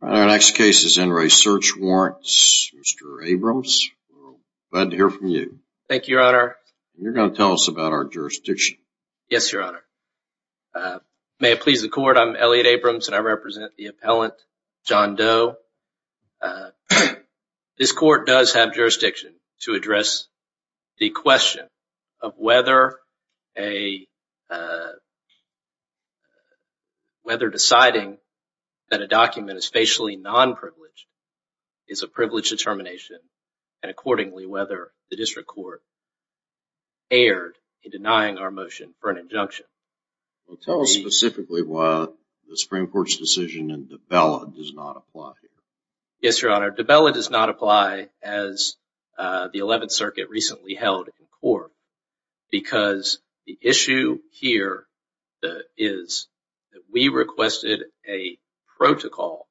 Our next case is in re. Search Warrants. Mr. Abrams, glad to hear from you. Thank you, Your Honor. You're going to tell us about our jurisdiction. Yes, Your Honor. May it please the Court, I'm Elliot Abrams and I represent the appellant, John Doe. This Court does have jurisdiction to address the question of whether deciding that a document is facially non-privileged is a privileged determination and accordingly whether the District Court erred in denying our motion for an injunction. Tell us specifically why the Supreme Court's decision in DiBella does not apply here. Yes, Your Honor. DiBella does not apply as the 11th Circuit recently held in court because the issue here is that we requested a protocol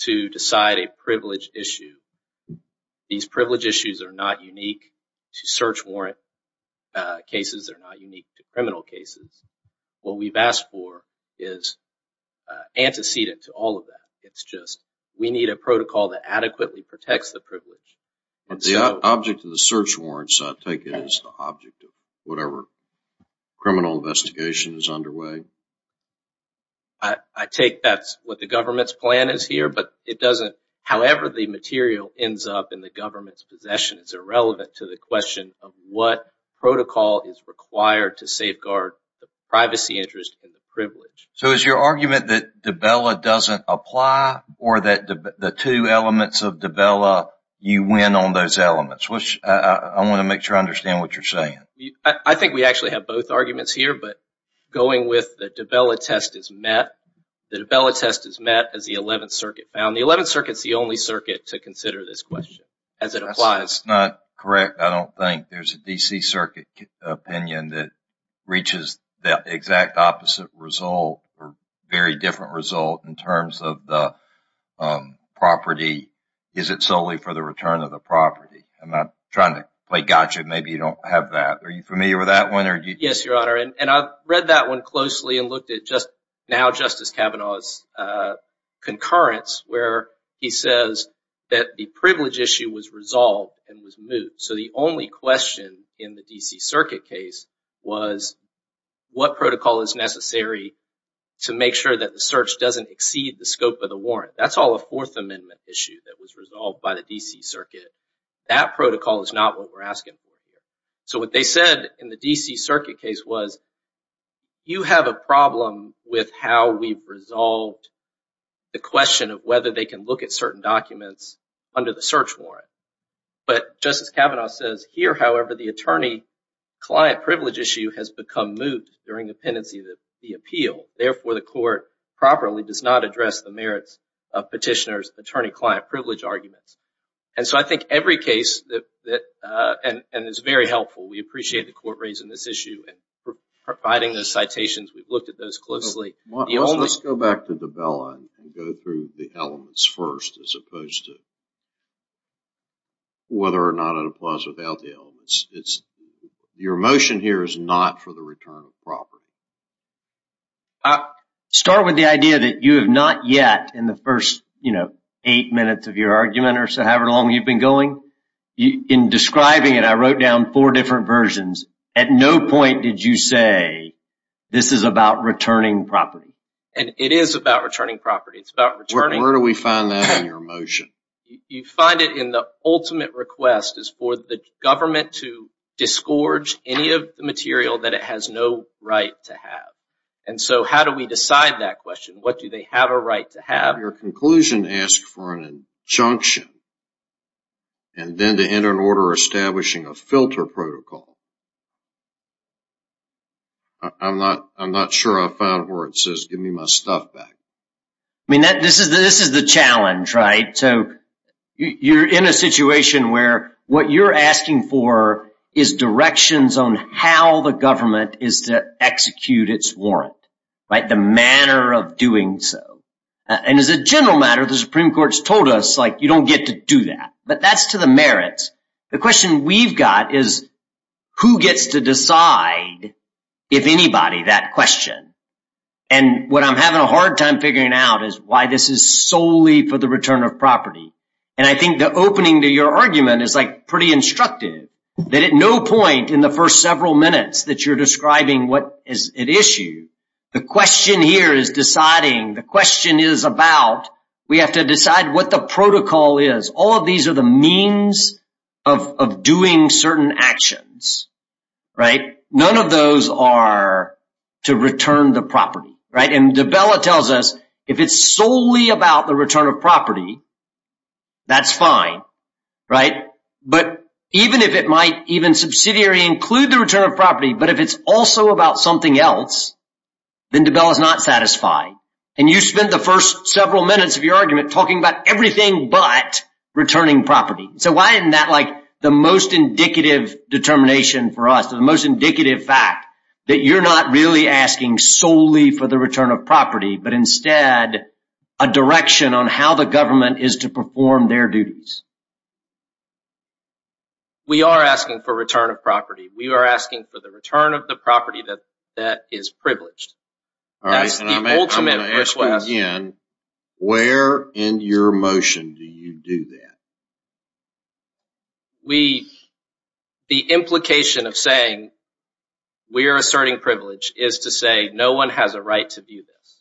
to decide a privileged issue. These privileged issues are not unique to Search Warrant cases. They're not unique to criminal cases. What we've asked for is antecedent to all of that. It's just we need a protocol that adequately protects the privilege. But the object of the Search Warrants, I take it, is the object of whatever criminal investigation is underway? I take that's what the government's plan is here, but however the material ends up in the government's possession is irrelevant to the question of what protocol is required to safeguard the privacy interest and the privilege. So is your argument that DiBella doesn't apply or that the two elements of DiBella, you win on those elements? I want to make sure I understand what you're saying. I think we actually have both arguments here, but going with the DiBella test is met. The DiBella test is met as the 11th Circuit found. The 11th Circuit is the only circuit to consider this question as it applies. That's not correct. I don't think there's a D.C. Circuit opinion that reaches the exact opposite result or very different result in terms of the property. Is it solely for the return of the property? I'm not trying to play gotcha. Maybe you don't have that. Are you familiar with that one? Yes, Your Honor, and I've read that one closely and looked at now Justice Kavanaugh's concurrence where he says that the privilege issue was resolved and was moved. So the only question in the D.C. Circuit case was what protocol is necessary to make sure that the search doesn't exceed the scope of the warrant. That's all a Fourth Amendment issue that was resolved by the D.C. Circuit. That protocol is not what we're asking for here. So what they said in the D.C. Circuit case was, you have a problem with how we've resolved the question of whether they can look at certain documents under the search warrant. But Justice Kavanaugh says, here, however, the attorney-client privilege issue has become moved during the pendency of the appeal. Therefore, the court properly does not address the merits of petitioner's attorney-client privilege arguments. And so I think every case, and it's very helpful, we appreciate the court raising this issue and providing those citations. We've looked at those closely. Let's go back to Dabella and go through the elements first as opposed to whether or not it applies without the elements. Your motion here is not for the return of property. Start with the idea that you have not yet, in the first, you know, eight minutes of your argument or so, however long you've been going, in describing it, I wrote down four different versions. At no point did you say, this is about returning property. And it is about returning property. It's about returning... Where do we find that in your motion? You find it in the ultimate request is for the government to disgorge any of the material that it has no right to have. And so how do we decide that question? What do they have a right to have? Your conclusion asks for an injunction and then to enter an order establishing a filter protocol. I'm not sure I found where it says, give me my stuff back. I mean, this is the challenge, right? So you're in a situation where what you're asking for is directions on how the government is to execute its warrant. The manner of doing so. And as a general matter, the Supreme Court's told us, like, you don't get to do that. But that's to the merits. The question we've got is, who gets to decide, if anybody, that question? And what I'm having a hard time figuring out is why this is solely for the return of property. And I think the opening to your argument is like pretty instructive. That at no point in the first several minutes that you're describing what is at issue, the question here is deciding. The question is about, we have to decide what the protocol is. All of these are the means of doing certain actions, right? None of those are to return the property, right? And de Bella tells us, if it's solely about the return of property, that's fine, right? But even if it might even subsidiary include the return of property, but if it's also about something else, then de Bella's not satisfied. And you spent the first several minutes of your argument talking about everything but returning property. So why isn't that like the most indicative determination for us? The most indicative fact that you're not really asking solely for the return of property, but instead a direction on how the government is to perform their duties. We are asking for return of property. We are asking for the return of the property that is privileged. That's the ultimate request. I'm going to ask you again, where in your motion do you do that? The implication of saying we're asserting privilege is to say no one has a right to view this.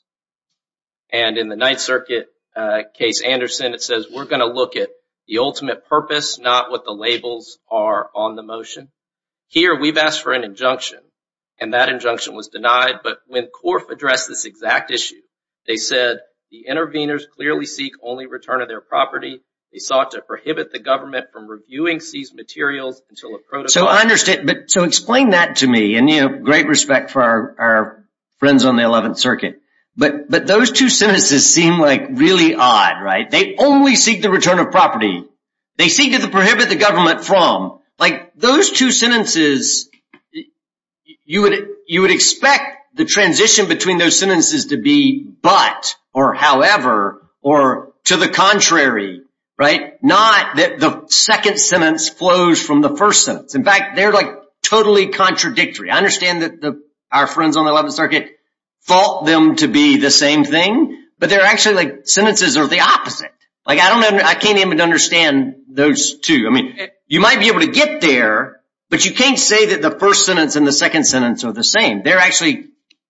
And in the Ninth Circuit case, Anderson, it says we're going to look at the ultimate purpose, not what the labels are on the motion. Here, we've asked for an injunction, and that injunction was denied. But when Corf addressed this exact issue, they said the interveners clearly seek only return of their property. They sought to prohibit the government from reviewing seized materials until a protocol... So explain that to me. And you have great respect for our friends on the Eleventh Circuit. But those two sentences seem like really odd, right? They only seek the return of property. They seek to prohibit the government from. Those two sentences, you would expect the transition between those sentences to be but or however or to the contrary, right? It's not that the second sentence flows from the first sentence. In fact, they're like totally contradictory. I understand that our friends on the Eleventh Circuit thought them to be the same thing. But they're actually like sentences are the opposite. Like I don't know, I can't even understand those two. I mean, you might be able to get there, but you can't say that the first sentence and the second sentence are the same. They're actually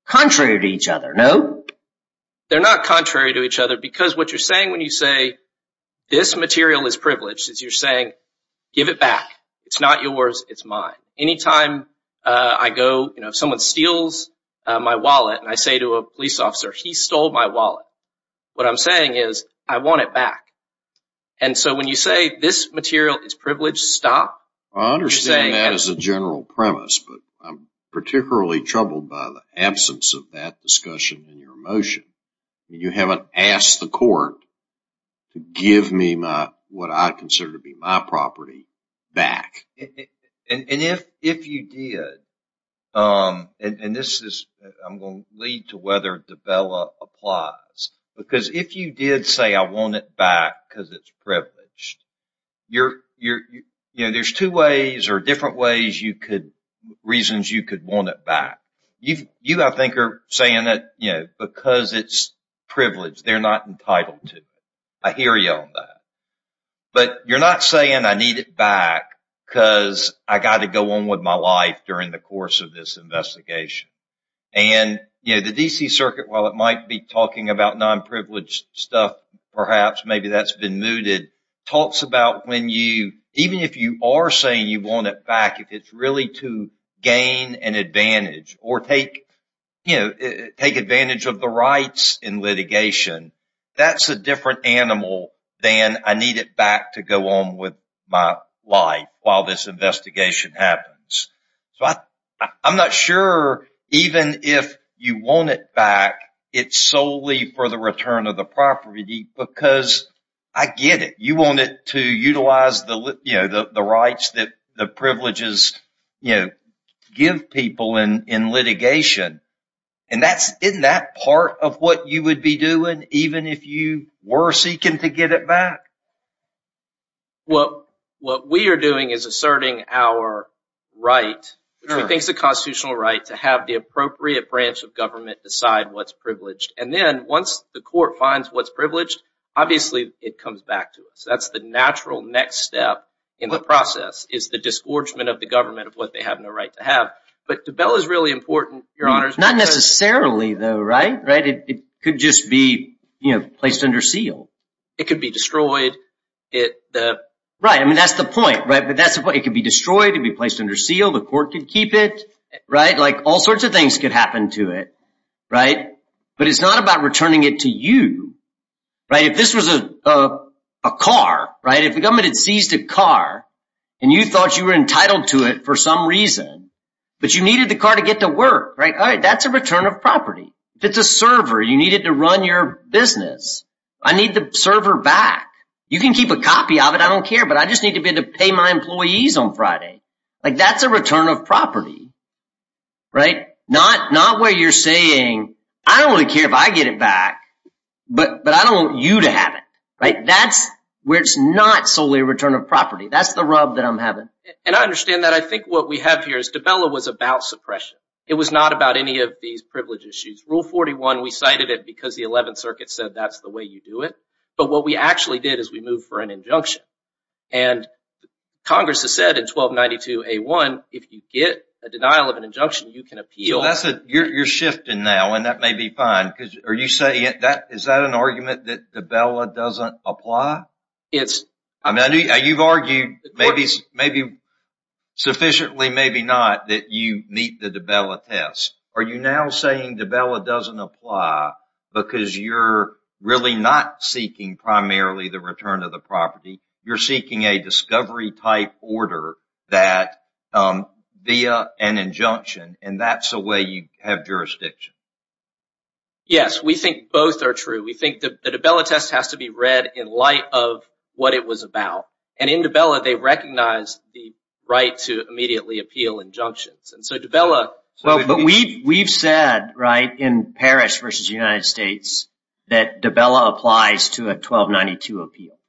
contrary to each other, no? They're not contrary to each other because what you're saying when you say this material is privileged is you're saying give it back. It's not yours. It's mine. Anytime I go, you know, someone steals my wallet and I say to a police officer, he stole my wallet. What I'm saying is I want it back. And so when you say this material is privileged, stop. I understand that as a general premise, but I'm particularly troubled by the absence of that discussion in your motion. You haven't asked the court to give me what I consider to be my property back. And if you did, and this is, I'm going to lead to whether Dabella applies, because if you did say I want it back because it's privileged, you're, you know, there's two ways or different ways you could, reasons you could want it back. You, I think, are saying that, you know, because it's privileged, they're not entitled to it. I hear you on that. But you're not saying I need it back because I got to go on with my life during the course of this investigation. And, you know, the D.C. Circuit, while it might be talking about non-privileged stuff, perhaps, maybe that's been mooted, talks about when you, even if you are saying you want it back, if it's really to gain an advantage or take, you know, take advantage of the rights in litigation, that's a different animal than I need it back to go on with my life while this investigation happens. So I'm not sure even if you want it back, it's solely for the return of the property, because I get it. You want it to utilize the, you know, the rights that the privileges, you know, give people in litigation. And that's, isn't that part of what you would be doing, even if you were seeking to get it back? Well, what we are doing is asserting our right, which we think is a constitutional right, to have the appropriate branch of government decide what's privileged. And then once the court finds what's privileged, obviously, it comes back to us. That's the natural next step in the process, is the disgorgement of the government of what they have no right to have. But the bill is really important, Your Honors. Not necessarily, though, right? It could just be, you know, placed under seal. It could be destroyed. Right. I mean, that's the point, right? But that's the point. It could be destroyed. It could be placed under seal. The court could keep it, right? Like, all sorts of things could happen to it, right? But it's not about returning it to you, right? If this was a car, right, if the government had seized a car and you thought you were entitled to it for some reason, but you needed the car to get to work, right? All right. That's a return of property. If it's a server, you need it to run your business. I need the server back. You can keep a copy of it. I don't care, but I just need to be able to pay my employees on Friday. Like, that's a return of property, right? Not where you're saying, I don't really care if I get it back, but I don't want you to have it, right? That's where it's not solely a return of property. That's the rub that I'm having. And I understand that. I think what we have here is, DiBella was about suppression. It was not about any of these privilege issues. Rule 41, we cited it because the 11th Circuit said that's the way you do it. But what we actually did is we moved for an injunction. And Congress has said in 1292A1, if you get a denial of an injunction, you can appeal. You're shifting now, and that may be fine. Is that an argument that DiBella doesn't apply? I mean, you've argued maybe sufficiently, maybe not, that you meet the DiBella test. Are you now saying DiBella doesn't apply because you're really not seeking primarily the return of the property? You're seeking a discovery-type order via an injunction, and that's the way you have jurisdiction? Yes, we think both are true. We think the DiBella test has to be read in light of what it was about. And in DiBella, they recognize the right to immediately appeal injunctions. But we've said in Parrish v. United States that DiBella applies to a 1292 appeal.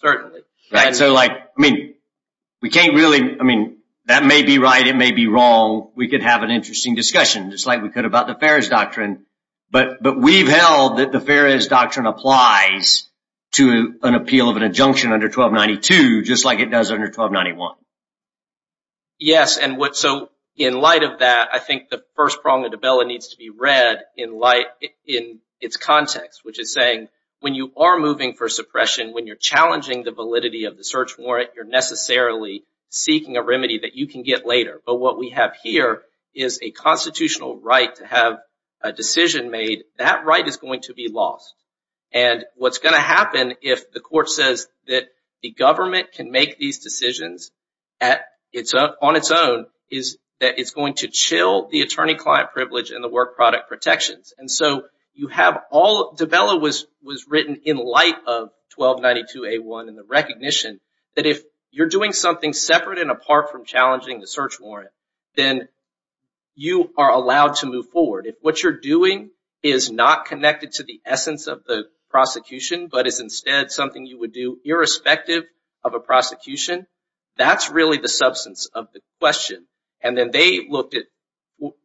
Certainly. That may be right, it may be wrong. We could have an interesting discussion, just like we could about the Ferris Doctrine. But we've held that the Ferris Doctrine applies to an appeal of an injunction under 1292, just like it does under 1291. Yes, and so in light of that, I think the first prong of DiBella needs to be read in its context, which is saying when you are moving for suppression, when you're challenging the validity of the search warrant, you're necessarily seeking a remedy that you can get later. But what we have here is a constitutional right to have a decision made. That right is going to be lost. And what's going to happen if the court says that the government can make these decisions on its own, is that it's going to chill the attorney-client privilege and the work product protections. And so DiBella was written in light of 1292A1 and the recognition that if you're doing something separate and apart from challenging the search warrant, then you are allowed to move forward. If what you're doing is not connected to the essence of the prosecution, but is instead something you would do irrespective of a prosecution, that's really the substance of the question. And then they looked at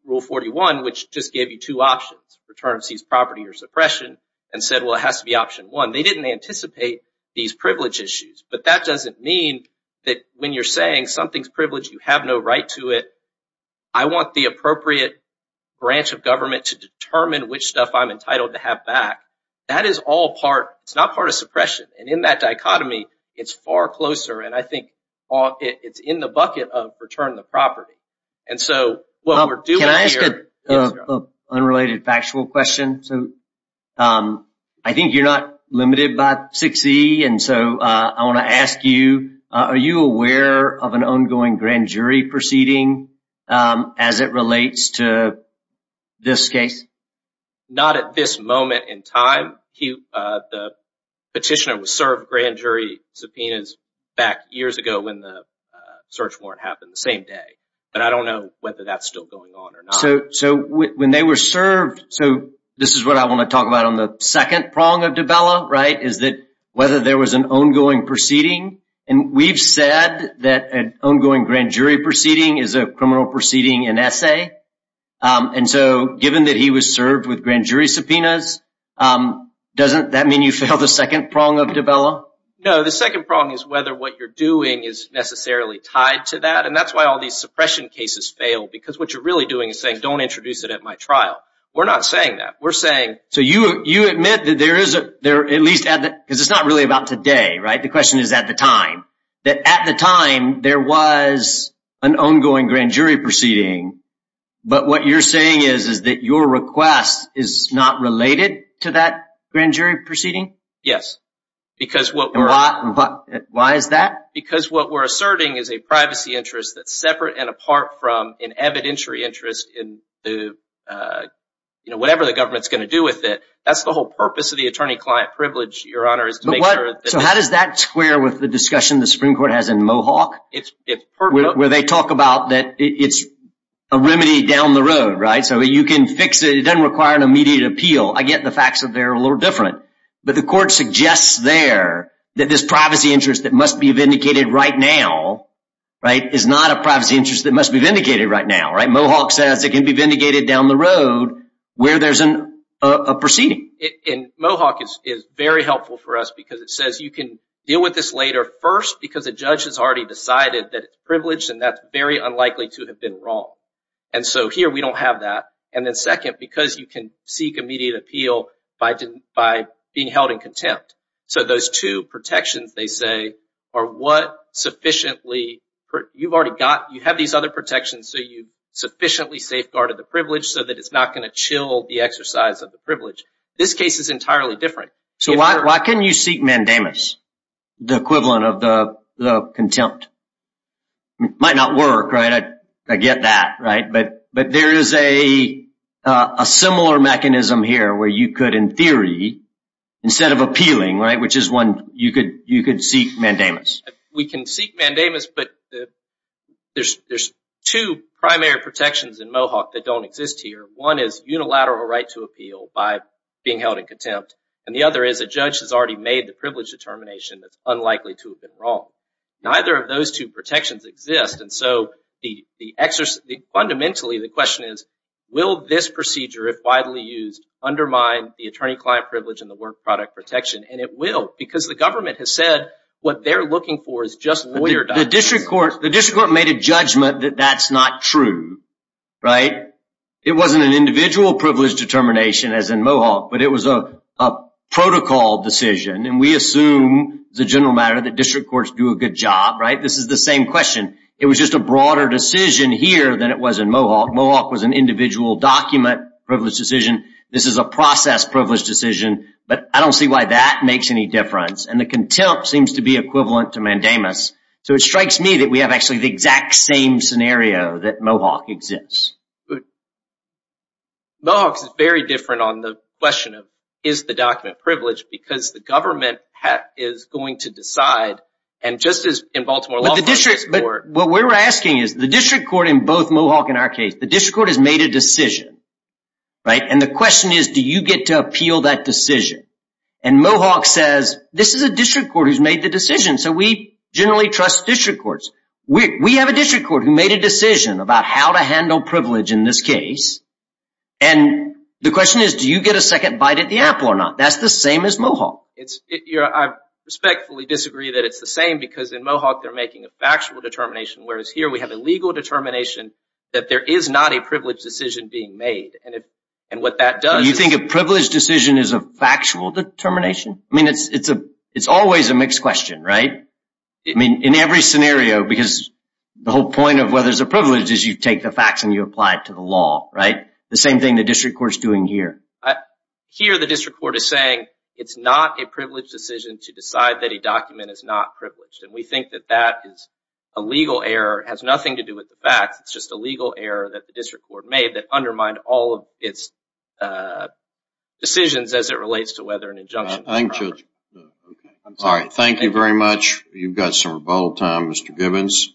Rule 41, which just gave you two options, return of seized property or suppression, and said, well, it has to be option one. They didn't anticipate these privilege issues. But that doesn't mean that when you're saying something's privileged, you have no right to it. I want the appropriate branch of government to determine which stuff I'm entitled to have back. That is all part, it's not part of suppression. And in that dichotomy, it's far closer. And I think it's in the bucket of return the property. Can I ask an unrelated factual question? I think you're not limited by 6E, and so I want to ask you, are you aware of an ongoing grand jury proceeding as it relates to this case? Not at this moment in time. The petitioner was served grand jury subpoenas back years ago when the search warrant happened the same day. But I don't know whether that's still going on or not. So when they were served, so this is what I want to talk about on the second prong of Dubella, right? Whether there was an ongoing proceeding. And we've said that an ongoing grand jury proceeding is a criminal proceeding in essay. And so given that he was served with grand jury subpoenas, doesn't that mean you failed the second prong of Dubella? No, the second prong is whether what you're doing is necessarily tied to that. And that's why all these suppression cases fail. Because what you're really doing is saying, don't introduce it at my trial. We're not saying that. So you admit that there is, at least, because it's not really about today, right? The question is at the time. That at the time, there was an ongoing grand jury proceeding. But what you're saying is that your request is not related to that grand jury proceeding? Yes. Why is that? Because what we're asserting is a privacy interest that's separate and apart from an evidentiary interest in the, you know, whatever the government's going to do with it. That's the whole purpose of the attorney-client privilege, Your Honor, is to make sure that So how does that square with the discussion the Supreme Court has in Mohawk? It's pertinent. Where they talk about that it's a remedy down the road, right? So you can fix it. It doesn't require an immediate appeal. I get the facts that they're a little different. But the court suggests there that this privacy interest that must be vindicated right now, right, is not a privacy interest that must be vindicated right now, right? It has to be vindicated down the road where there's a proceeding. And Mohawk is very helpful for us because it says you can deal with this later. First, because a judge has already decided that it's privileged and that's very unlikely to have been wrong. And so here we don't have that. And then second, because you can seek immediate appeal by being held in contempt. So those two protections, they say, are what sufficiently, you've already got, you have these other so that it's not going to chill the exercise of the privilege. This case is entirely different. So why can't you seek mandamus, the equivalent of the contempt? Might not work, right? I get that, right? But there is a similar mechanism here where you could, in theory, instead of appealing, right, which is one, you could seek mandamus. We can seek mandamus, but there's two primary protections in Mohawk that don't exist here. One is unilateral right to appeal by being held in contempt. And the other is a judge has already made the privilege determination that's unlikely to have been wrong. Neither of those two protections exist. And so fundamentally, the question is, will this procedure, if widely used, undermine the attorney-client privilege and the work product protection? And it will because the government has said what they're looking for is just lawyer documents. The district court made a judgment that that's not true, right? It wasn't an individual privilege determination as in Mohawk, but it was a protocol decision. And we assume, as a general matter, that district courts do a good job, right? This is the same question. It was just a broader decision here than it was in Mohawk. Mohawk was an individual document privilege decision. This is a process privilege decision. But I don't see why that makes any difference. And the contempt seems to be equivalent to mandamus. So it strikes me that we have actually the exact same scenario that Mohawk exists. Mohawk is very different on the question of, is the document privileged? Because the government is going to decide. And just as in Baltimore law... What we're asking is, the district court in both Mohawk and our case, the district court has made a decision, right? And the question is, do you get to appeal that decision? And Mohawk says, this is a district court who's made the decision. So we generally trust district courts. We have a district court who made a decision about how to handle privilege in this case. And the question is, do you get a second bite at the apple or not? That's the same as Mohawk. I respectfully disagree that it's the same because in Mohawk they're making a factual determination. Whereas here we have a legal determination that there is not a privilege decision being made. And what that does... You think a privileged decision is a factual determination? I mean, it's always a mixed question, right? I mean, in every scenario, because the whole point of whether it's a privilege is you take the facts and you apply it to the law, right? The same thing the district court's doing here. Here the district court is saying, it's not a privileged decision to decide that a document is not privileged. And we think that that is a legal error. It has nothing to do with the facts. It's just a legal error that the district court made that undermined all of its decisions as it relates to whether an injunction... Thank you. All right. Thank you very much. You've got some rebuttal time, Mr. Gibbons.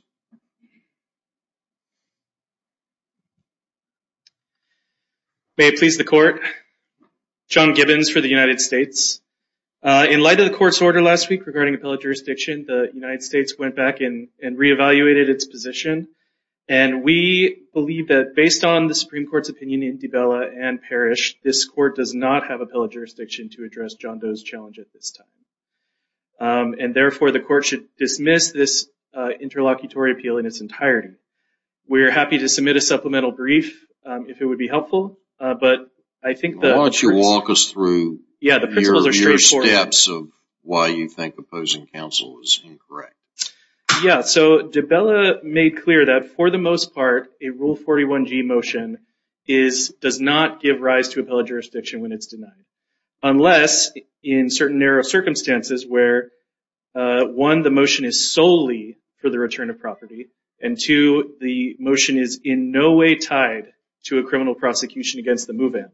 May it please the court. John Gibbons for the United States. In light of the court's order last week regarding appellate jurisdiction, the United States went back and re-evaluated its position. And we believe that based on the Supreme Court's opinion in DiBella and Parrish, this court does not have appellate jurisdiction to address John Doe's challenge at this time. And therefore, the court should dismiss this interlocutory appeal in its entirety. We are happy to submit a supplemental brief if it would be helpful. But I think that... Why don't you walk us through... Yeah, the principles are straightforward. ...your steps of why you think opposing counsel is incorrect. Yeah. So DiBella made clear that for the most part, a Rule 41G motion does not give rise to appellate jurisdiction when it's denied. Unless in certain narrow circumstances where, one, the motion is solely for the return of property, and two, the motion is in no way tied to a criminal prosecution against the move-in.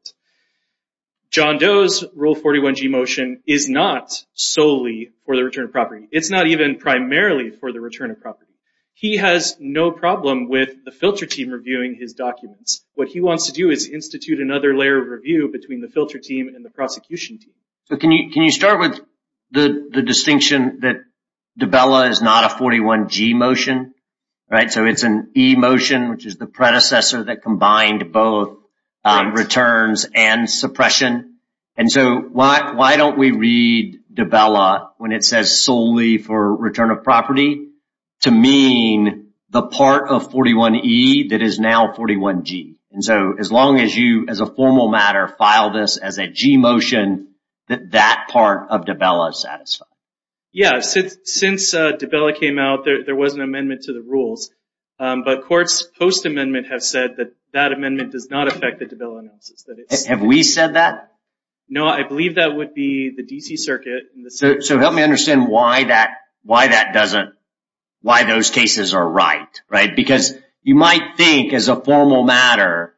John Doe's Rule 41G motion is not solely for the return of property. It's not even primarily for the return of property. He has no problem with the filter team reviewing his documents. What he wants to do is institute another layer of review between the filter team and the prosecution team. Can you start with the distinction that DiBella is not a 41G motion? So it's an E motion, which is the predecessor that combined both returns and suppression. And so why don't we read DiBella when it says solely for return of property? To mean the part of 41E that is now 41G. And so as long as you, as a formal matter, file this as a G motion, that that part of DiBella is satisfied. Yeah, since DiBella came out, there was an amendment to the rules. But courts post-amendment have said that that amendment does not affect the DiBella analysis. Have we said that? No, I believe that would be the DC circuit. So help me understand why that doesn't, why those cases are right, right? Because you might think as a formal matter,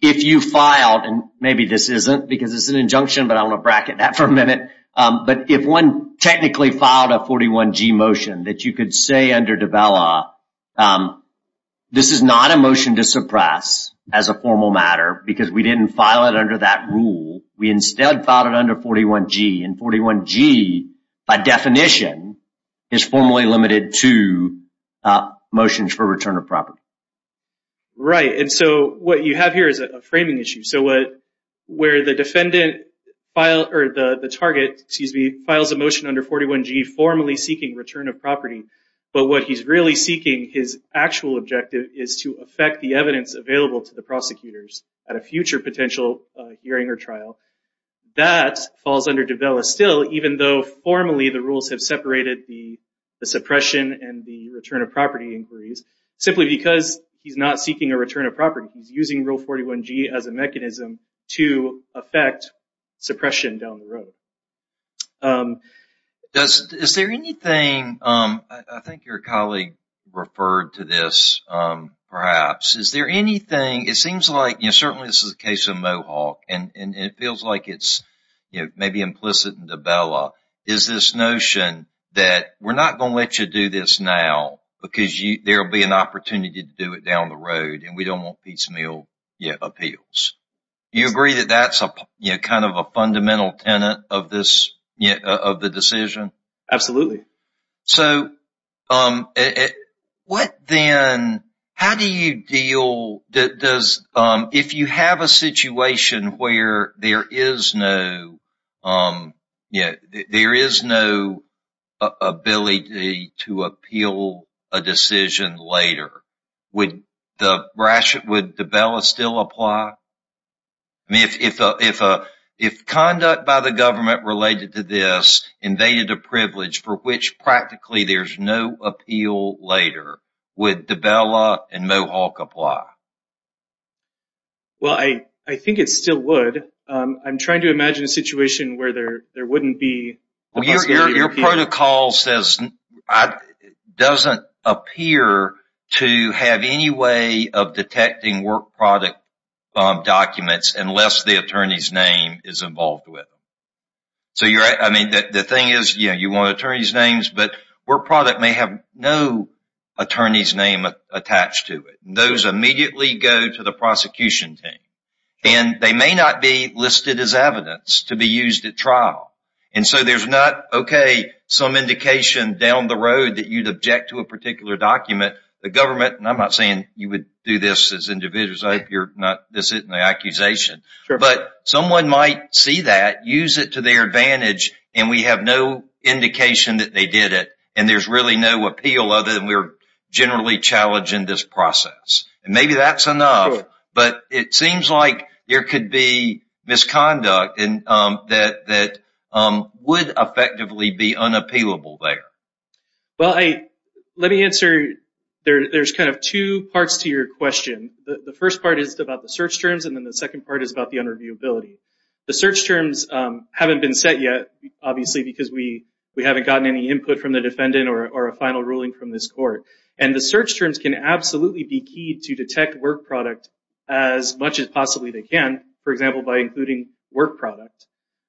if you filed, and maybe this isn't because it's an injunction, but I want to bracket that for a minute. But if one technically filed a 41G motion that you could say under DiBella, this is not a motion to suppress as a formal matter because we didn't file it under that rule. We instead filed it under 41G. And 41G, by definition, is formally limited to motions for return of property. Right, and so what you have here is a framing issue. So what, where the defendant filed, or the target, excuse me, files a motion under 41G formally seeking return of property. But what he's really seeking, his actual objective, is to affect the evidence available to the prosecutors at a future potential hearing or trial. That falls under DiBella still, even though formally the rules have separated the suppression and the return of property inquiries, simply because he's not seeking a return of property. He's using Rule 41G as a mechanism to affect suppression down the road. Is there anything, I think your colleague referred to this perhaps, is there anything, it seems like, certainly this is a case of Mohawk, and it feels like it's maybe implicit in DiBella, is this notion that we're not going to let you do this now because there will be an opportunity to do it down the road and we don't want piecemeal appeals. Do you agree that that's kind of a fundamental tenet of this, of the decision? Absolutely. So what then, how do you deal, does, if you have a situation where there is no, there is no ability to appeal a decision later, would DiBella still apply? I mean, if conduct by the government related to this invaded a privilege for which practically there's no appeal later, would DiBella and Mohawk apply? Well, I think it still would. I'm trying to imagine a situation where there wouldn't be. Your protocol says, doesn't appear to have any way of detecting work product documents unless the attorney's name is involved with them. So, I mean, the thing is, you want attorney's names, but work product may have no attorney's name attached to it. Those immediately go to the prosecution team. And they may not be listed as evidence to be used at trial. And so there's not, okay, some indication down the road that you'd object to a particular document. The government, and I'm not saying you would do this as individuals. I hope you're not, this isn't an accusation. But someone might see that, use it to their advantage, and we have no indication that they did it. And there's really no appeal other than we're generally challenging this process. And maybe that's enough. But it seems like there could be misconduct that would effectively be unappealable there. Well, let me answer, there's kind of two parts to your question. The first part is about the search terms, and then the second part is about the unreviewability. The search terms haven't been set yet, obviously, because we haven't gotten any input from the defendant or a final ruling from this court. And the search terms can absolutely be keyed to detect work product as much as possibly they can, for example, by including work product.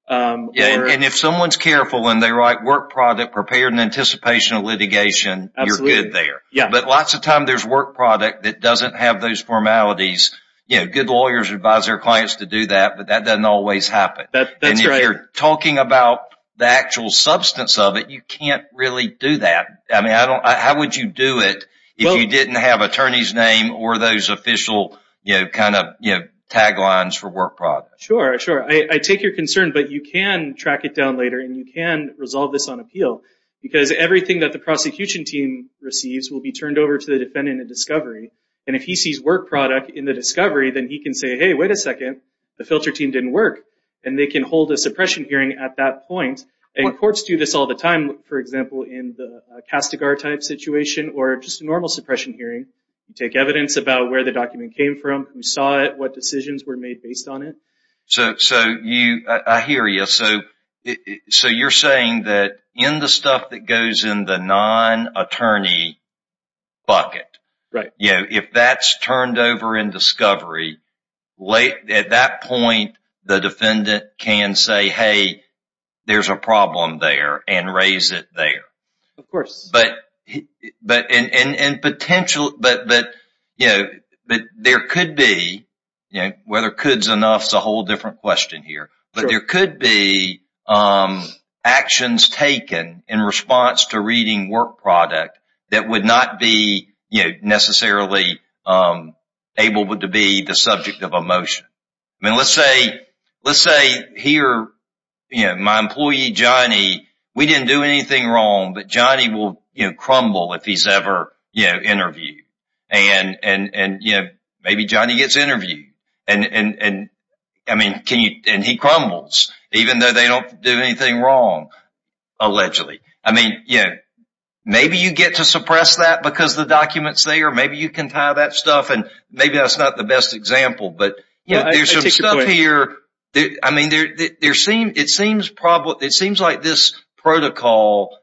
And if someone's careful and they write work product prepared in anticipation of litigation, you're good there. But lots of times there's work product that doesn't have those formalities. Good lawyers advise their clients to do that, but that doesn't always happen. And if you're talking about the actual substance of it, you can't really do that. How would you do it if you didn't have an attorney's name or those official taglines for work product? Sure, sure. I take your concern, but you can track it down later and you can resolve this on appeal. Because everything that the prosecution team receives will be turned over to the defendant in discovery. And if he sees work product in the discovery, then he can say, hey, wait a second, the filter team didn't work. And they can hold a suppression hearing at that point. And courts do this all the time, for example, in the Castigar type situation or just a normal suppression hearing. You take evidence about where the document came from, who saw it, what decisions were made based on it. So I hear you. So you're saying that in the stuff that goes in the non-attorney bucket, if that's turned over in discovery, at that point, the defendant can say, hey, there's a problem there and raise it there. Of course. But there could be, whether could's enough is a whole different question here. But there could be actions taken in response to reading work product that would not be necessarily able to be the subject of a motion. I mean, let's say here my employee, Johnny, we didn't do anything wrong, but Johnny will crumble if he's ever interviewed. And maybe Johnny gets interviewed and he crumbles, even though they don't do anything wrong, allegedly. I mean, maybe you get to suppress that because the document's there. Maybe you can tie that stuff and maybe that's not the best example. But there's some stuff here. I mean, it seems like this protocol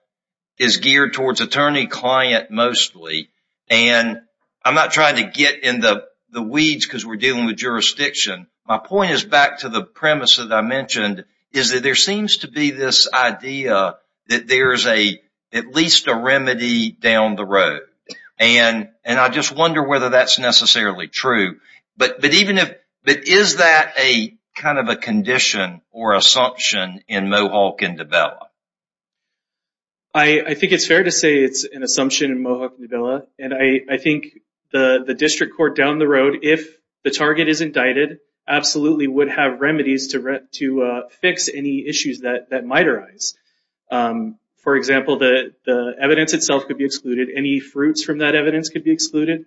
is geared towards attorney-client mostly. And I'm not trying to get in the weeds because we're dealing with jurisdiction. My point is back to the premise that I mentioned, is that there seems to be this idea that there's at least a remedy down the road. And I just wonder whether that's necessarily true. But is that a kind of a condition or assumption in Mohawk and Davila? I think it's fair to say it's an assumption in Mohawk and Davila. And I think the district court down the road, if the target is indicted, absolutely would have remedies to fix any issues that might arise. For example, the evidence itself could be excluded. Any fruits from that evidence could be excluded.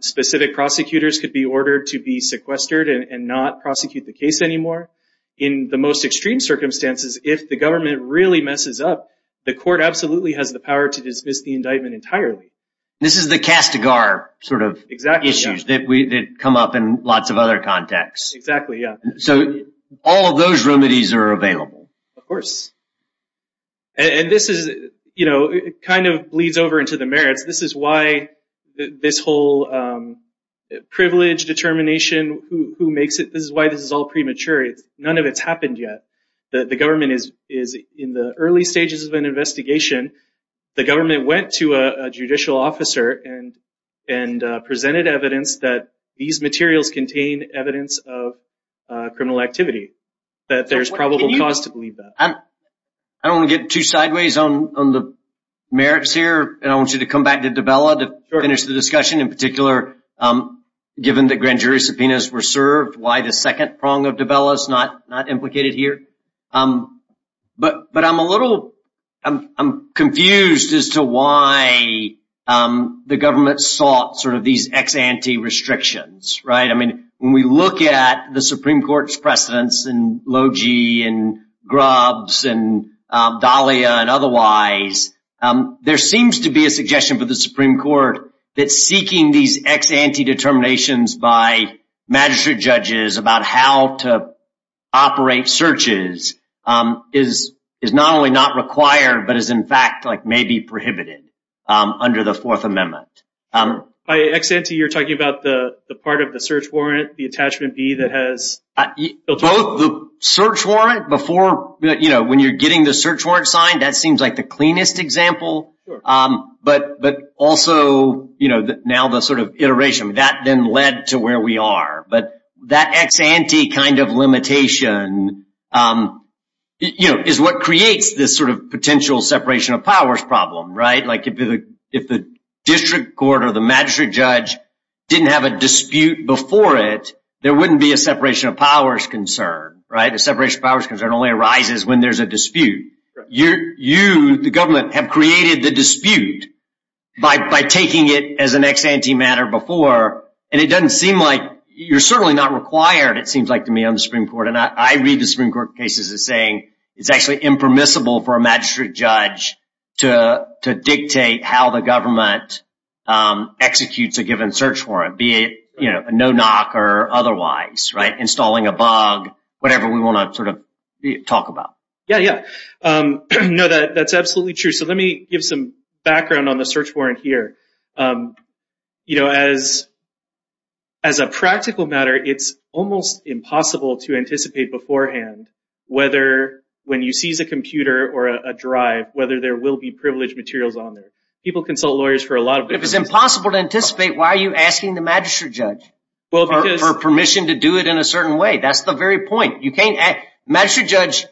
Specific prosecutors could be ordered to be sequestered and not prosecute the case anymore. In the most extreme circumstances, if the government really messes up, the court absolutely has the power to dismiss the indictment entirely. This is the castigar sort of issues that come up in lots of other contexts. Exactly, yeah. So all of those remedies are available. Of course. And this is, you know, it kind of bleeds over into the merits. This is why this whole privilege determination, who makes it, this is why this is all premature. None of it's happened yet. The government is in the early stages of an investigation. The government went to a judicial officer and presented evidence that these materials contain evidence of criminal activity. That there's probable cause to believe that. I don't want to get too sideways on the merits here. And I want you to come back to Dubella to finish the discussion. In particular, given the grand jury subpoenas were served, why the second prong of Dubella is not implicated here. But I'm a little, I'm confused as to why the government sought sort of these ex ante restrictions. Right. I mean, when we look at the Supreme Court's precedents and Logee and Grubbs and Dahlia and otherwise, there seems to be a suggestion for the Supreme Court that seeking these ex ante determinations by magistrate judges about how to operate searches is not only not required, but is in fact like maybe prohibited under the Fourth Amendment. By ex ante, you're talking about the part of the search warrant, the attachment B that has. Both the search warrant before, you know, when you're getting the search warrant signed, that seems like the cleanest example. But but also, you know, now the sort of iteration that then led to where we are. But that ex ante kind of limitation, you know, is what creates this sort of potential separation of powers problem. Right. Like if the district court or the magistrate judge didn't have a dispute before it, there wouldn't be a separation of powers concern. Right. The separation of powers concern only arises when there's a dispute. You, the government have created the dispute by taking it as an ex ante matter before. And it doesn't seem like you're certainly not required. It seems like to me on the Supreme Court and I read the Supreme Court cases as saying it's actually impermissible for a magistrate judge to to dictate how the government executes a given search warrant. Be it a no knock or otherwise. Right. Installing a bug, whatever we want to sort of talk about. Yeah, yeah. No, that's absolutely true. So let me give some background on the search warrant here. You know, as as a practical matter, it's almost impossible to anticipate beforehand whether when you seize a computer or a drive, whether there will be privileged materials on there. People consult lawyers for a lot of it is impossible to anticipate. Why are you asking the magistrate judge for permission to do it in a certain way? That's the very point. Magistrate judge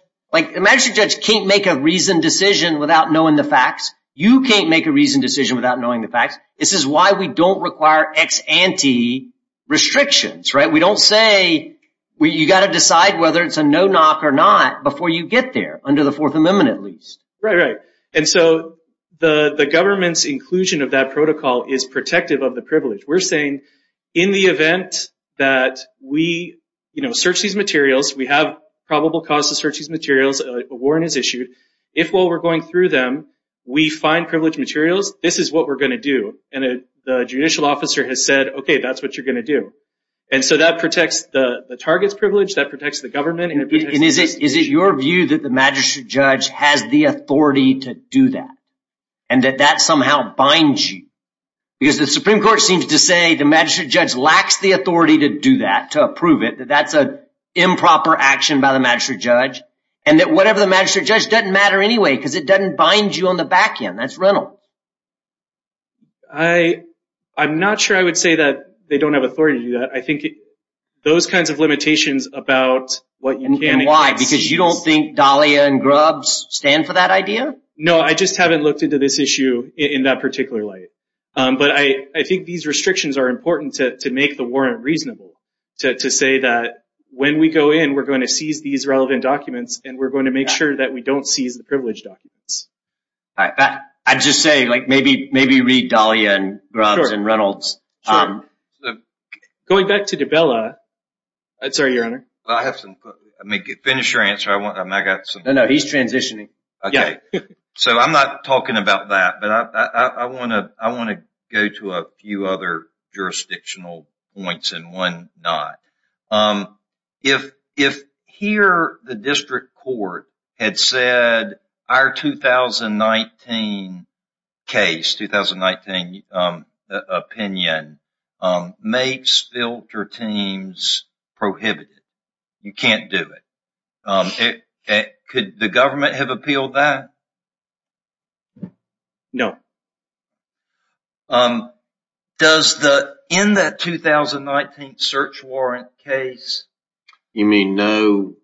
can't make a reasoned decision without knowing the facts. You can't make a reasoned decision without knowing the facts. This is why we don't require ex ante restrictions. Right. We don't say you got to decide whether it's a no knock or not before you get there under the Fourth Amendment, at least. Right. And so the government's inclusion of that protocol is protective of the privilege. We're saying in the event that we search these materials, we have probable cause to search these materials, a warrant is issued. If while we're going through them, we find privileged materials, this is what we're going to do. And the judicial officer has said, OK, that's what you're going to do. And so that protects the target's privilege, that protects the government. And is it is it your view that the magistrate judge has the authority to do that and that that somehow binds you? Because the Supreme Court seems to say the magistrate judge lacks the authority to do that, to approve it. That that's an improper action by the magistrate judge and that whatever the magistrate judge doesn't matter anyway because it doesn't bind you on the back end. That's rental. I I'm not sure I would say that they don't have authority. I think those kinds of limitations about what you can and why, because you don't think Dahlia and Grubbs stand for that idea. No, I just haven't looked into this issue in that particular light. But I think these restrictions are important to make the warrant reasonable to say that when we go in, we're going to seize these relevant documents and we're going to make sure that we don't seize the privileged documents. I'd just say, like, maybe maybe read Dahlia and Grubbs and Reynolds. Going back to DiBella. Sorry, Your Honor. I have to finish your answer. No, no, he's transitioning. So I'm not talking about that, but I want to I want to go to a few other jurisdictional points and one not. If if here the district court had said our 2019 case, 2019 opinion makes filter teams prohibited. You can't do it. Could the government have appealed that? No. Does the in that 2019 search warrant case? You mean no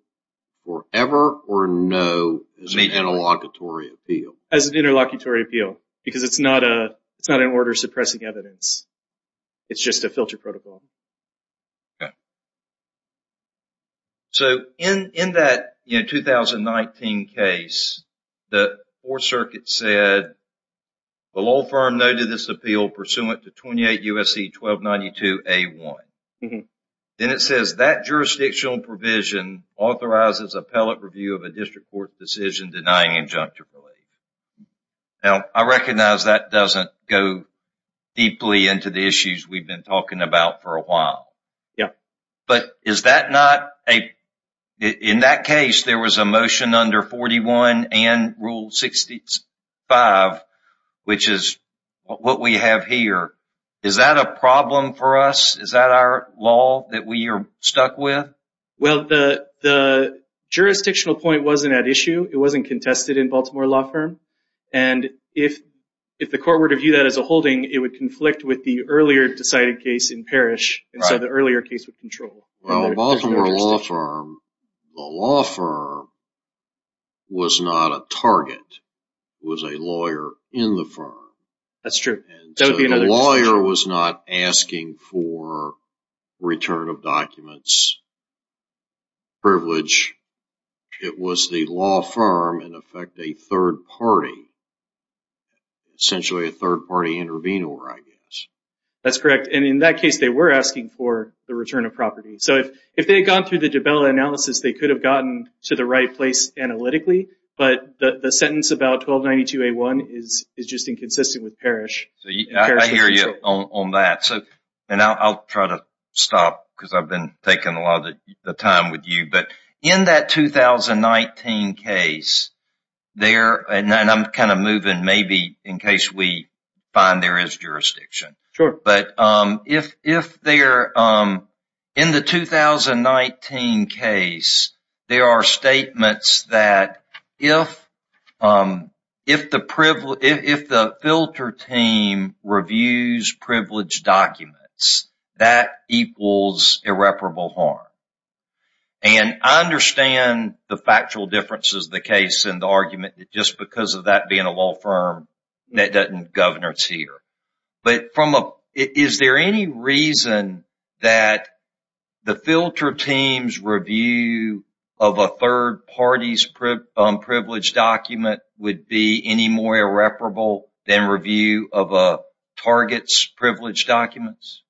or ever or no as an interlocutory appeal? As an interlocutory appeal, because it's not a it's not an order suppressing evidence. It's just a filter protocol. So in in that 2019 case, the Fourth Circuit said the law firm noted this appeal pursuant to 28 U.S.C. 1292 A1. Then it says that jurisdictional provision authorizes appellate review of a district court decision denying injunctive relief. Now, I recognize that doesn't go deeply into the issues we've been talking about for a while. Yeah. But is that not a in that case, there was a motion under 41 and Rule 65, which is what we have here. Is that a problem for us? Is that our law that we are stuck with? Well, the the jurisdictional point wasn't at issue. It wasn't contested in Baltimore law firm. And if if the court were to view that as a holding, it would conflict with the earlier decided case in Parrish. And so the earlier case would control Baltimore law firm. The law firm was not a target, was a lawyer in the firm. That's true. That would be another lawyer was not asking for return of documents. Privilege. It was the law firm, in effect, a third party. Essentially, a third party intervenor, I guess. That's correct. And in that case, they were asking for the return of property. So if if they had gone through the analysis, they could have gotten to the right place analytically. But the sentence about 1292 A1 is is just inconsistent with Parrish. So I hear you on that. So and I'll try to stop because I've been taking a lot of time with you. But in that 2019 case there and I'm kind of moving maybe in case we find there is jurisdiction. Sure. But if if they are in the 2019 case, there are statements that if if the if the filter team reviews privileged documents, that equals irreparable harm. And I understand the factual differences, the case and the argument that just because of that being a law firm that doesn't governor's here. But from a is there any reason that the filter team's review of a third party's privilege document would be any more irreparable than review of a target's privileged documents?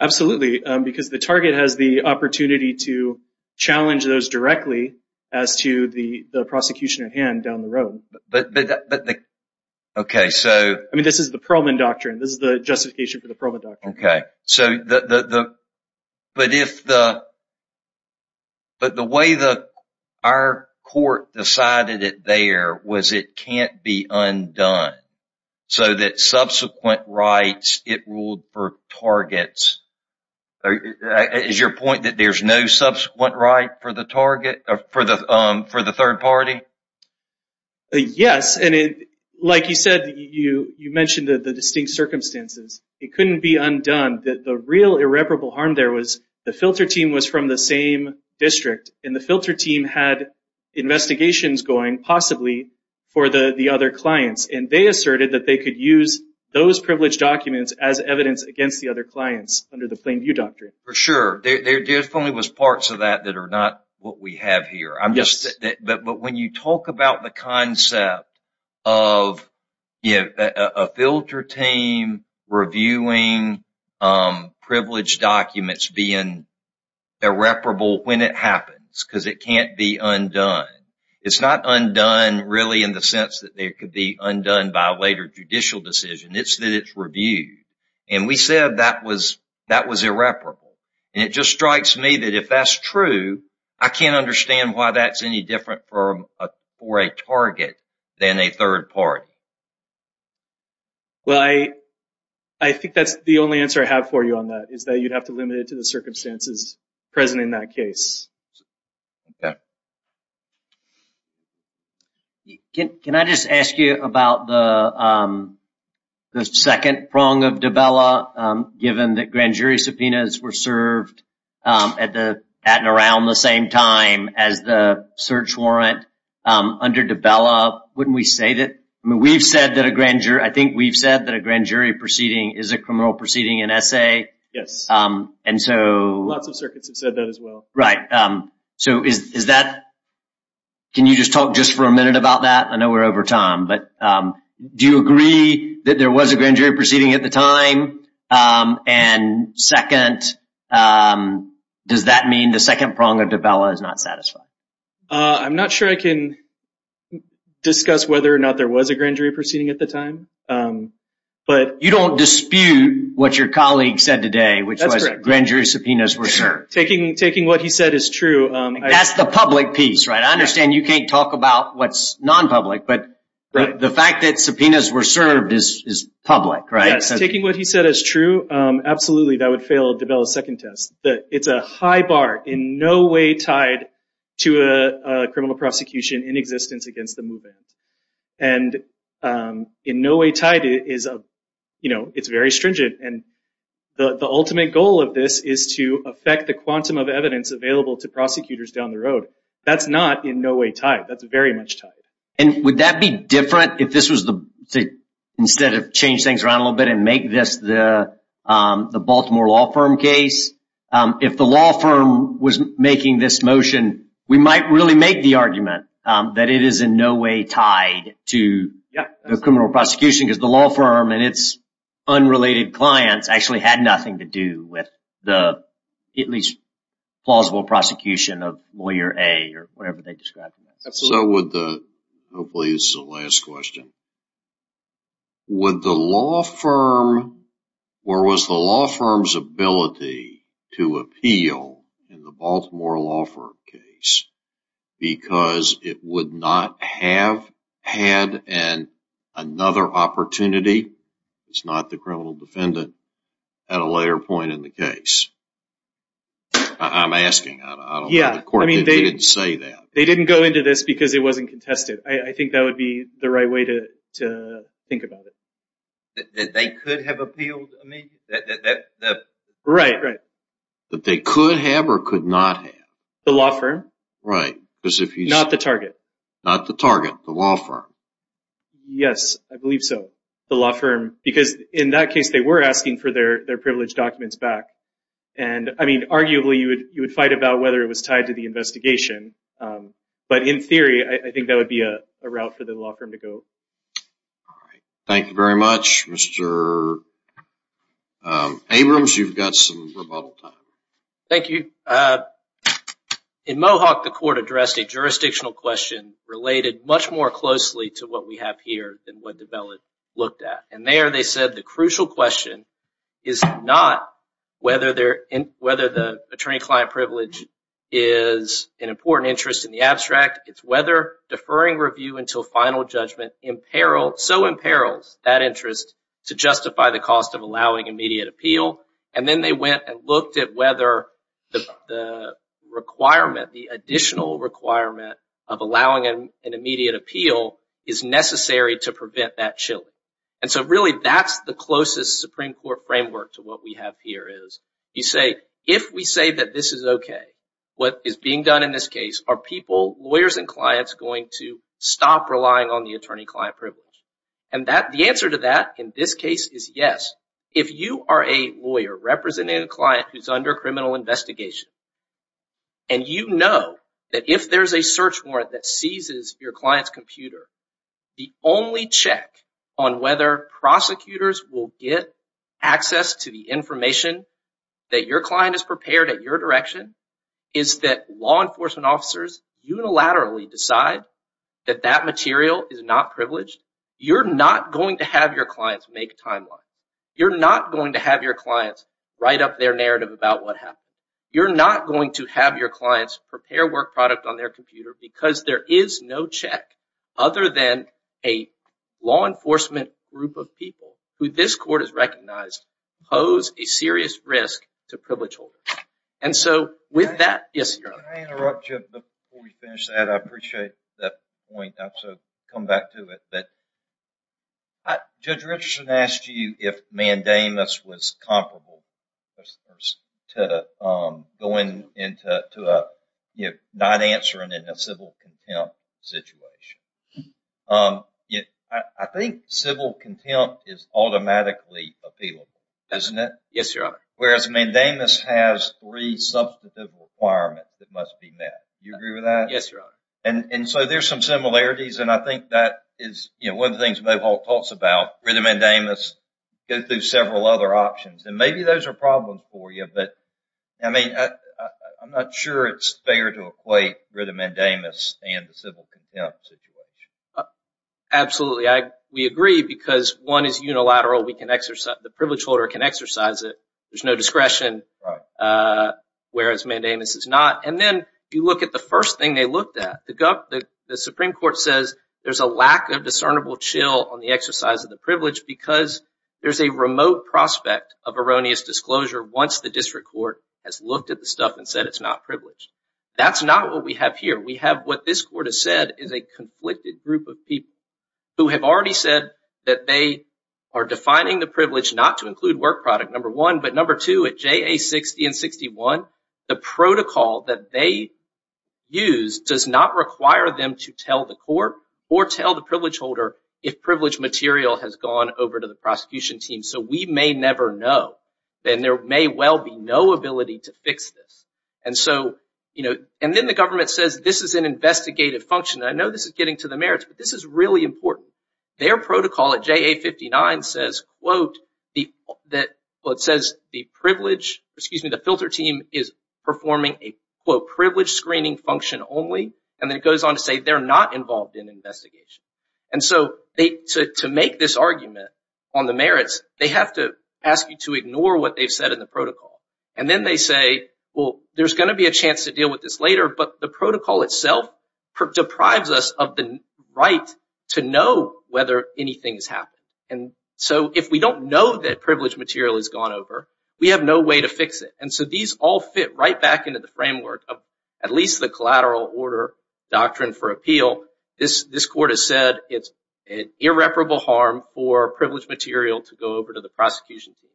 Absolutely, because the target has the opportunity to challenge those directly as to the prosecution at hand down the road. But OK, so I mean, this is the problem in doctrine. This is the justification for the problem. OK, so the but if the. But the way the our court decided it there was it can't be undone so that subsequent rights it ruled for targets. Is your point that there's no subsequent right for the target for the for the third party? Yes. And like you said, you you mentioned the distinct circumstances. It couldn't be undone that the real irreparable harm there was the filter team was from the same district and the filter team had investigations going, possibly for the other clients. And they asserted that they could use those privileged documents as evidence against the other clients under the plain view doctrine. For sure. There definitely was parts of that that are not what we have here. I'm just that. But when you talk about the concept of a filter team reviewing privileged documents being irreparable when it happens because it can't be undone. It's not undone really in the sense that it could be undone by a later judicial decision. It's that it's reviewed. And we said that was that was irreparable. And it just strikes me that if that's true, I can't understand why that's any different for a for a target than a third party. Well, I I think that's the only answer I have for you on that is that you'd have to limit it to the circumstances present in that case. Can I just ask you about the second prong of Dabella, given that grand jury subpoenas were served at the at and around the same time as the search warrant under Dabella? Wouldn't we say that we've said that a grand jury, I think we've said that a grand jury proceeding is a criminal proceeding and essay. Yes. And so lots of circuits have said that as well. Right. So is that. Can you just talk just for a minute about that? I know we're over time, but do you agree that there was a grand jury proceeding at the time? And second, does that mean the second prong of Dabella is not satisfied? I'm not sure I can discuss whether or not there was a grand jury proceeding at the time, but. You don't dispute what your colleague said today, which was grand jury subpoenas were served. Taking taking what he said is true. That's the public piece. Right. I understand you can't talk about what's non-public, but the fact that subpoenas were served is public. Right. Taking what he said is true. Absolutely. That would fail. Dabella's second test that it's a high bar in no way tied to a criminal prosecution in existence against the movement. And in no way tied is, you know, it's very stringent. And the ultimate goal of this is to affect the quantum of evidence available to prosecutors down the road. That's not in no way tied. That's very much tied. And would that be different if this was the instead of change things around a little bit and make this the Baltimore law firm case? If the law firm was making this motion, we might really make the argument that it is in no way tied to the criminal prosecution, because the law firm and its unrelated clients actually had nothing to do with the at least plausible prosecution of lawyer A or whatever they described. Hopefully this is the last question. Would the law firm or was the law firm's ability to appeal in the Baltimore law firm case because it would not have had another opportunity? It's not the criminal defendant at a later point in the case. I'm asking. I don't know why the court didn't say that. They didn't go into this because it wasn't contested. I think that would be the right way to think about it. That they could have appealed? Right, right. That they could have or could not have. The law firm? Right. Not the target. Not the target. The law firm. Yes, I believe so. The law firm. Because in that case they were asking for their privileged documents back. Arguably you would fight about whether it was tied to the investigation. But in theory, I think that would be a route for the law firm to go. Thank you very much. Mr. Abrams, you've got some rebuttal time. Thank you. In Mohawk, the court addressed a jurisdictional question related much more closely to what we have here than what the ballot looked at. And there they said the crucial question is not whether the attorney-client privilege is an important interest in the abstract. It's whether deferring review until final judgment so imperils that interest to justify the cost of allowing immediate appeal. And then they went and looked at whether the additional requirement of allowing an immediate appeal is necessary to prevent that chilling. And so really that's the closest Supreme Court framework to what we have here is you say, if we say that this is okay, what is being done in this case, are people, lawyers and clients, going to stop relying on the attorney-client privilege? And the answer to that in this case is yes. If you are a lawyer representing a client who's under criminal investigation and you know that if there's a search warrant that seizes your client's computer, the only check on whether prosecutors will get access to the information that your client has prepared at your direction, is that law enforcement officers unilaterally decide that that material is not privileged, you're not going to have your clients make timelines. You're not going to have your clients write up their narrative about what happened. You're not going to have your clients prepare work product on their computer because there is no check other than a law enforcement group of people who this court has recognized pose a serious risk to privilege holders. And so with that, yes, Your Honor. Can I interrupt you before we finish that? I appreciate that point. Judge Richardson asked you if mandamus was comparable to not answering in a civil contempt situation. I think civil contempt is automatically appealable, isn't it? Yes, Your Honor. Whereas mandamus has three substantive requirements that must be met. Do you agree with that? Yes, Your Honor. And so there's some similarities, and I think that is one of the things Mohawk talks about. Rid of mandamus, go through several other options. And maybe those are problems for you, but I'm not sure it's fair to equate rid of mandamus and the civil contempt situation. Absolutely. We agree because one is unilateral. The privilege holder can exercise it. There's no discretion, whereas mandamus is not. And then you look at the first thing they looked at. The Supreme Court says there's a lack of discernible chill on the exercise of the privilege because there's a remote prospect of erroneous disclosure once the district court has looked at the stuff and said it's not privileged. That's not what we have here. We have what this court has said is a conflicted group of people who have already said that they are defining the privilege not to include work product, number one, but number two, at JA60 and 61, the protocol that they use does not require them to tell the court or tell the privilege holder if privilege material has gone over to the prosecution team. So we may never know, and there may well be no ability to fix this. And so, you know, and then the government says this is an investigative function. I know this is getting to the merits, but this is really important. Their protocol at JA59 says, quote, that it says the privilege, excuse me, the filter team is performing a, quote, privilege screening function only, and then it goes on to say they're not involved in investigation. And so to make this argument on the merits, they have to ask you to ignore what they've said in the protocol. And then they say, well, there's going to be a chance to deal with this later, but the protocol itself deprives us of the right to know whether anything has happened. And so if we don't know that privilege material has gone over, we have no way to fix it. And so these all fit right back into the framework of at least the collateral order doctrine for appeal. This court has said it's an irreparable harm for privilege material to go over to the prosecution team.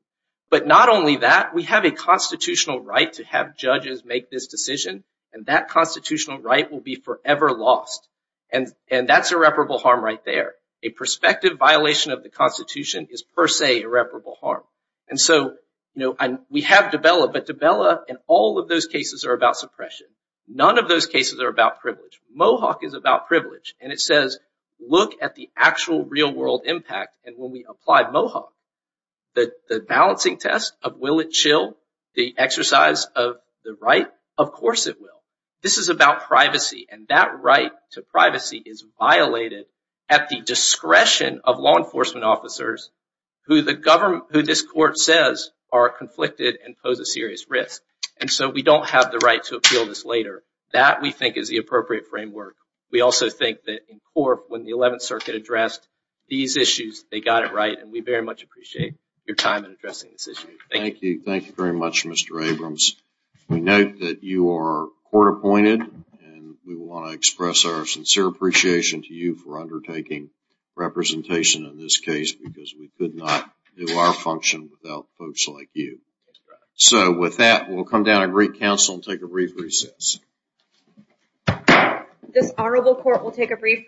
But not only that, we have a constitutional right to have judges make this decision, and that constitutional right will be forever lost. And that's irreparable harm right there. A prospective violation of the Constitution is per se irreparable harm. And so, you know, we have DEBELA, but DEBELA in all of those cases are about suppression. None of those cases are about privilege. Mohawk is about privilege. And it says, look at the actual real-world impact. And when we apply Mohawk, the balancing test of will it chill, the exercise of the right, of course it will. This is about privacy, and that right to privacy is violated at the discretion of law enforcement officers who this court says are conflicted and pose a serious risk. And so we don't have the right to appeal this later. That, we think, is the appropriate framework. We also think that in court, when the 11th Circuit addressed these issues, they got it right. And we very much appreciate your time in addressing this issue. Thank you. Thank you. Thank you very much, Mr. Abrams. We note that you are court-appointed, and we want to express our sincere appreciation to you for undertaking representation in this case because we could not do our function without folks like you. So with that, we'll come down and greet counsel and take a brief recess. This honorable court will take a brief recess.